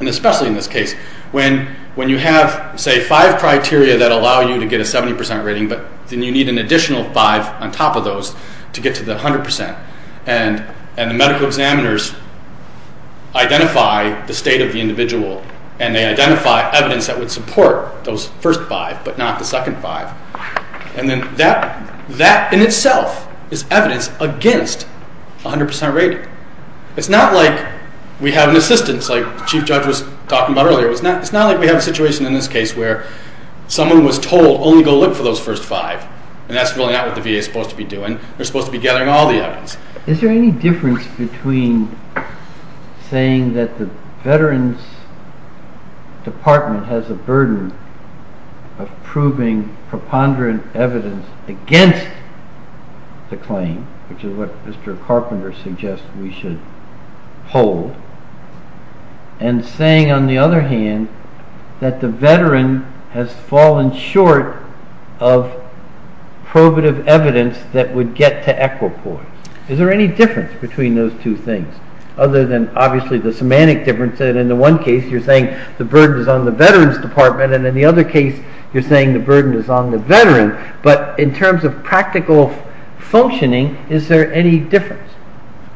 and especially in this case, when you have, say, five criteria that allow you to get a 70% rating, but then you need an additional five on top of those to get to the 100%. And the medical examiners identify the state of the individual, and they identify evidence that would support those first five, but not the second five. And then that in itself is evidence against 100% rating. It's not like we have an assistance, like the Chief Judge was talking about earlier. It's not like we have a situation in this case where someone was told, only go look for those first five, and that's really not what the VA is supposed to be doing. They're supposed to be gathering all the evidence. Is there any difference between saying that the Veterans Department has a burden of proving preponderant evidence against the claim, which is what Mr. Carpenter suggests we should hold, and saying, on the other hand, that the Veteran has fallen short of probative evidence that would get to equipoise? Is there any difference between those two things, other than obviously the semantic difference that in the one case you're saying the burden is on the Veterans Department and in the other case you're saying the burden is on the Veteran, but in terms of practical functioning, is there any difference?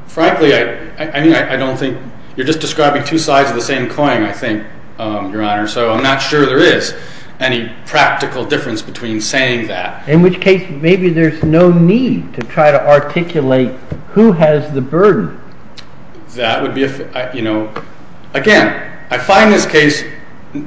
Frankly, I don't think... You're just describing two sides of the same coin, I think, Your Honor, so I'm not sure there is any practical difference between saying that. In which case, maybe there's no need to try to articulate who has the burden. That would be if... Again, I find this case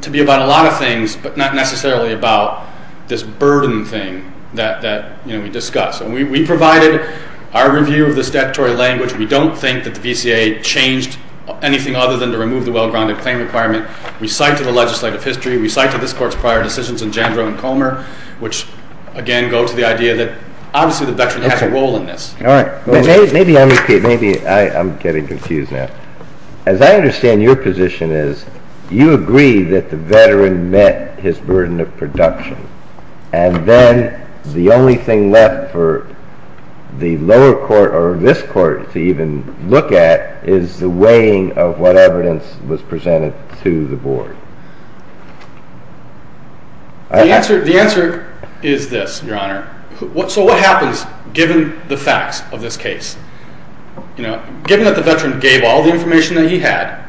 to be about a lot of things, but not necessarily about this burden thing that we discussed. We provided our review of the statutory language. We don't think that the VCA changed anything other than to remove the well-grounded claim requirement. We cite to the legislative history. We cite to this Court's prior decisions in Jandro and Comer, which again go to the idea that obviously the Veteran has a role in this. Maybe I'm getting confused now. As I understand, your position is you agree that the Veteran met his burden of production, and then the only thing left for the lower court or this Court to even look at is the weighing of what evidence was presented to the Board. The answer is this, Your Honor. So what happens given the facts of this case? Given that the Veteran gave all the information that he had,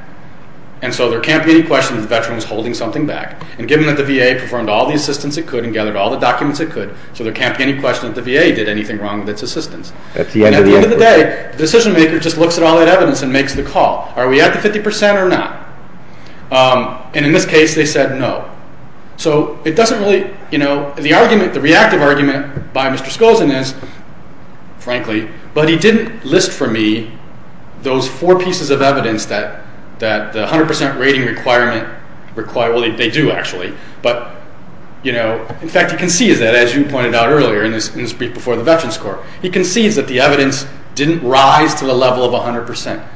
and so there can't be any question that the Veteran was holding something back, and given that the VA performed all the assistance it could and gathered all the documents it could, so there can't be any question that the VA did anything wrong with its assistance. At the end of the day, the decision-maker just looks at all that evidence and makes the call. Are we at the 50% or not? And in this case, they said no. So it doesn't really... The argument, the reactive argument by Mr. Skolzin is, frankly, but he didn't list for me those four pieces of evidence that the 100% rating requirement... Well, they do, actually, but, you know... In fact, he concedes that, as you pointed out earlier in this brief before the Veterans Court. He concedes that the evidence didn't rise to the level of 100%.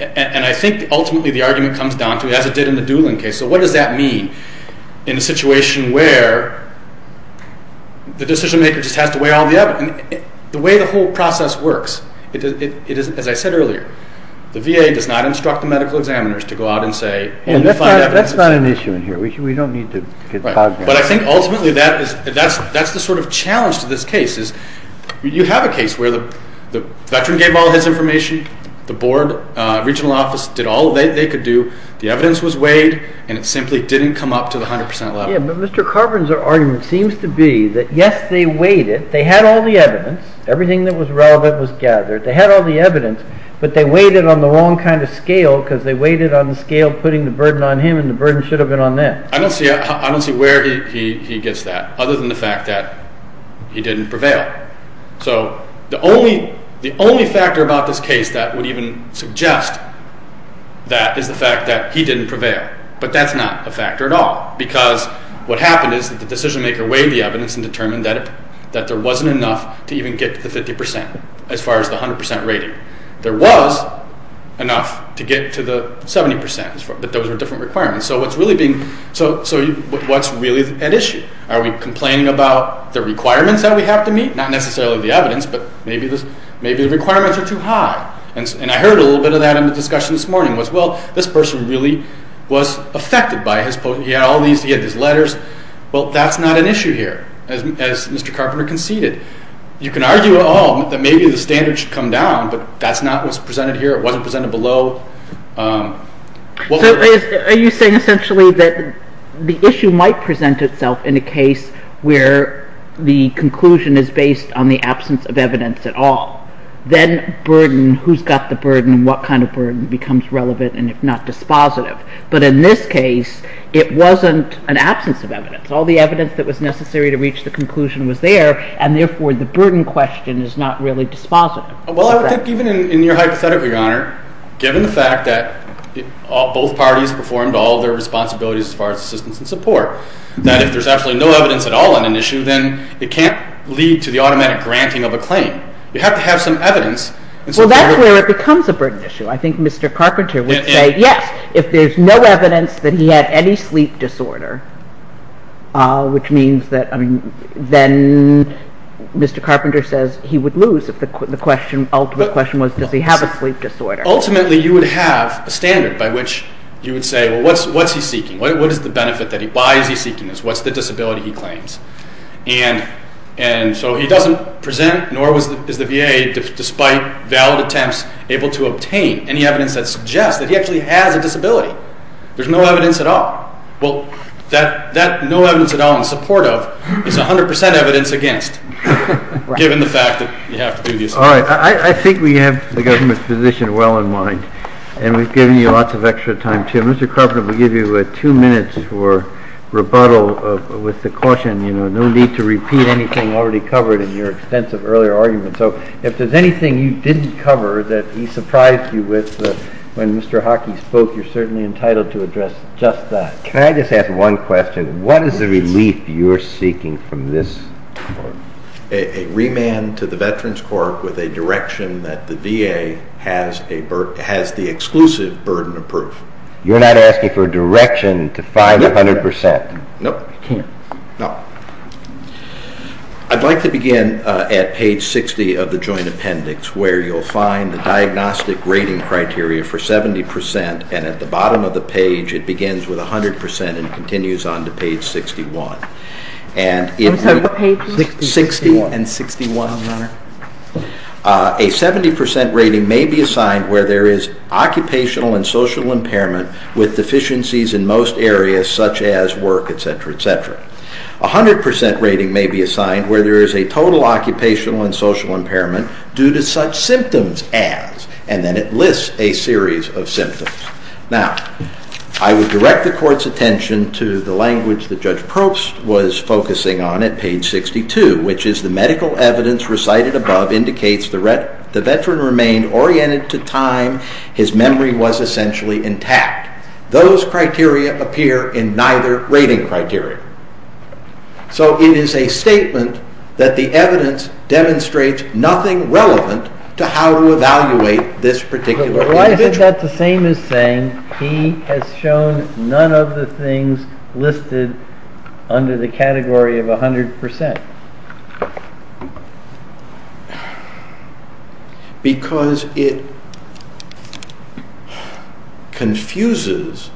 And I think, ultimately, the argument comes down to, as it did in the Doolin case, so what does that mean in a situation where the decision-maker just has to weigh all the evidence? The way the whole process works, as I said earlier, the VA does not instruct the medical examiners to go out and say... That's not an issue in here. We don't need to get cognizant. But I think, ultimately, that's the sort of challenge to this case. You have a case where the veteran gave all his information, the board, regional office, did all they could do, the evidence was weighed, and it simply didn't come up to the 100% level. Yeah, but Mr. Carver's argument seems to be that, yes, they weighed it, they had all the evidence, everything that was relevant was gathered, they had all the evidence, but they weighed it on the wrong kind of scale because they weighed it on the scale putting the burden on him and the burden should have been on them. I don't see where he gets that, other than the fact that he didn't prevail. So the only factor about this case that would even suggest that is the fact that he didn't prevail. But that's not a factor at all because what happened is that the decision-maker weighed the evidence and determined that there wasn't enough to even get to the 50% as far as the 100% rating. There was enough to get to the 70%, but those were different requirements. So what's really at issue? Are we complaining about the requirements that we have to meet? Not necessarily the evidence, but maybe the requirements are too high. And I heard a little bit of that in the discussion this morning. Well, this person really was affected by his post. He had all these, he had these letters. Well, that's not an issue here, as Mr. Carpenter conceded. You can argue at all that maybe the standard should come down, but that's not what's presented here. It wasn't presented below. So are you saying essentially that the issue might present itself in a case where the conclusion is based on the absence of evidence at all? Then burden, who's got the burden, what kind of burden becomes relevant and if not dispositive? But in this case, it wasn't an absence of evidence. All the evidence that was necessary to reach the conclusion was there, and therefore the burden question is not really dispositive. Well, I think even in your hypothetical, Your Honor, given the fact that both parties performed all their responsibilities as far as assistance and support, that if there's absolutely no evidence at all on an issue, then it can't lead to the automatic granting of a claim. You have to have some evidence. Well, that's where it becomes a burden issue. I think Mr. Carpenter would say, yes, if there's no evidence that he had any sleep disorder, which means that then Mr. Carpenter says he would lose if the ultimate question was does he have a sleep disorder. Ultimately, you would have a standard by which you would say, well, what's he seeking? What is the benefit that he's seeking? Why is he seeking this? What's the disability he claims? And so he doesn't present, nor is the VA, despite valid attempts, able to obtain any evidence that suggests that he actually has a disability. There's no evidence at all. Well, that no evidence at all in support of is 100% evidence against, given the fact that you have to do the assessment. All right. I think we have the government's position well in mind, and we've given you lots of extra time, too. Mr. Carpenter, we'll give you two minutes for rebuttal with the caution, no need to repeat anything already covered in your extensive earlier argument. So if there's anything you didn't cover that he surprised you with when Mr. Hockey spoke, you're certainly entitled to address just that. Can I just ask one question? What is the relief you're seeking from this report? A remand to the Veterans Corp with a direction that the VA has the exclusive burden of proof. You're not asking for a direction to 500%? No. You can't? No. I'd like to begin at page 60 of the joint appendix where you'll find the diagnostic rating criteria for 70%, and at the bottom of the page it begins with 100% and continues on to page 61. I'm sorry, what page? 60 and 61, Your Honor. A 70% rating may be assigned where there is occupational and social impairment with deficiencies in most areas such as work, etc., etc. A 100% rating may be assigned where there is a total occupational and social impairment due to such symptoms as, and then it lists a series of symptoms. Now, I would direct the Court's attention to the language that Judge Probst was focusing on at page 62, which is the medical evidence recited above indicates the Veteran remained oriented to time, his memory was essentially intact. Those criteria appear in neither rating criteria. So it is a statement that the evidence demonstrates nothing relevant to how to evaluate this particular individual. But why is that the same as saying he has shown none of the things listed under the category of 100%? Because it confuses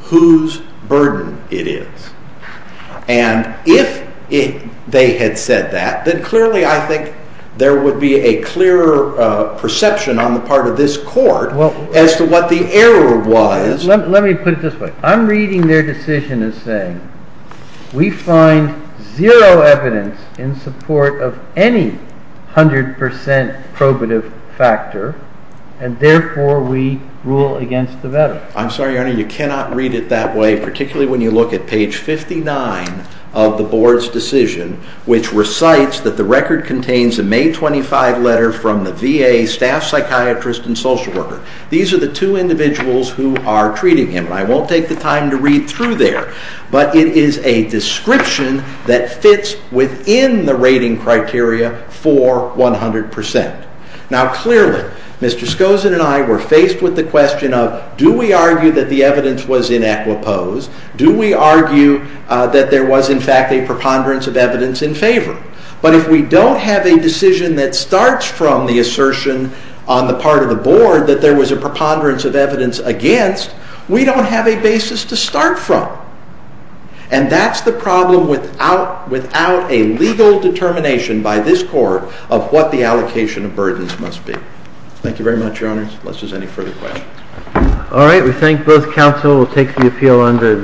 whose burden it is. And if they had said that, then clearly I think there would be a clearer perception on the part of this Court as to what the error was. Let me put it this way. I'm reading their decision as saying we find zero evidence in support of any 100% probative factor and therefore we rule against the Veteran. I'm sorry, Your Honor, you cannot read it that way, particularly when you look at page 59 of the Board's decision, which recites that the record contains a May 25 letter from the VA staff psychiatrist and social worker. These are the two individuals who are treating him. I won't take the time to read through there, but it is a description that fits within the rating criteria for 100%. Now clearly, Mr. Skozin and I were faced with the question of do we argue that the evidence was in equipose? Do we argue that there was in fact a preponderance of evidence in favor? But if we don't have a decision that starts from the assertion on the part of the Board that there was a preponderance of evidence against, we don't have a basis to start from. And that's the problem without a legal determination by this Court of what the allocation of burdens must be. Thank you very much, Your Honor, unless there's any further questions.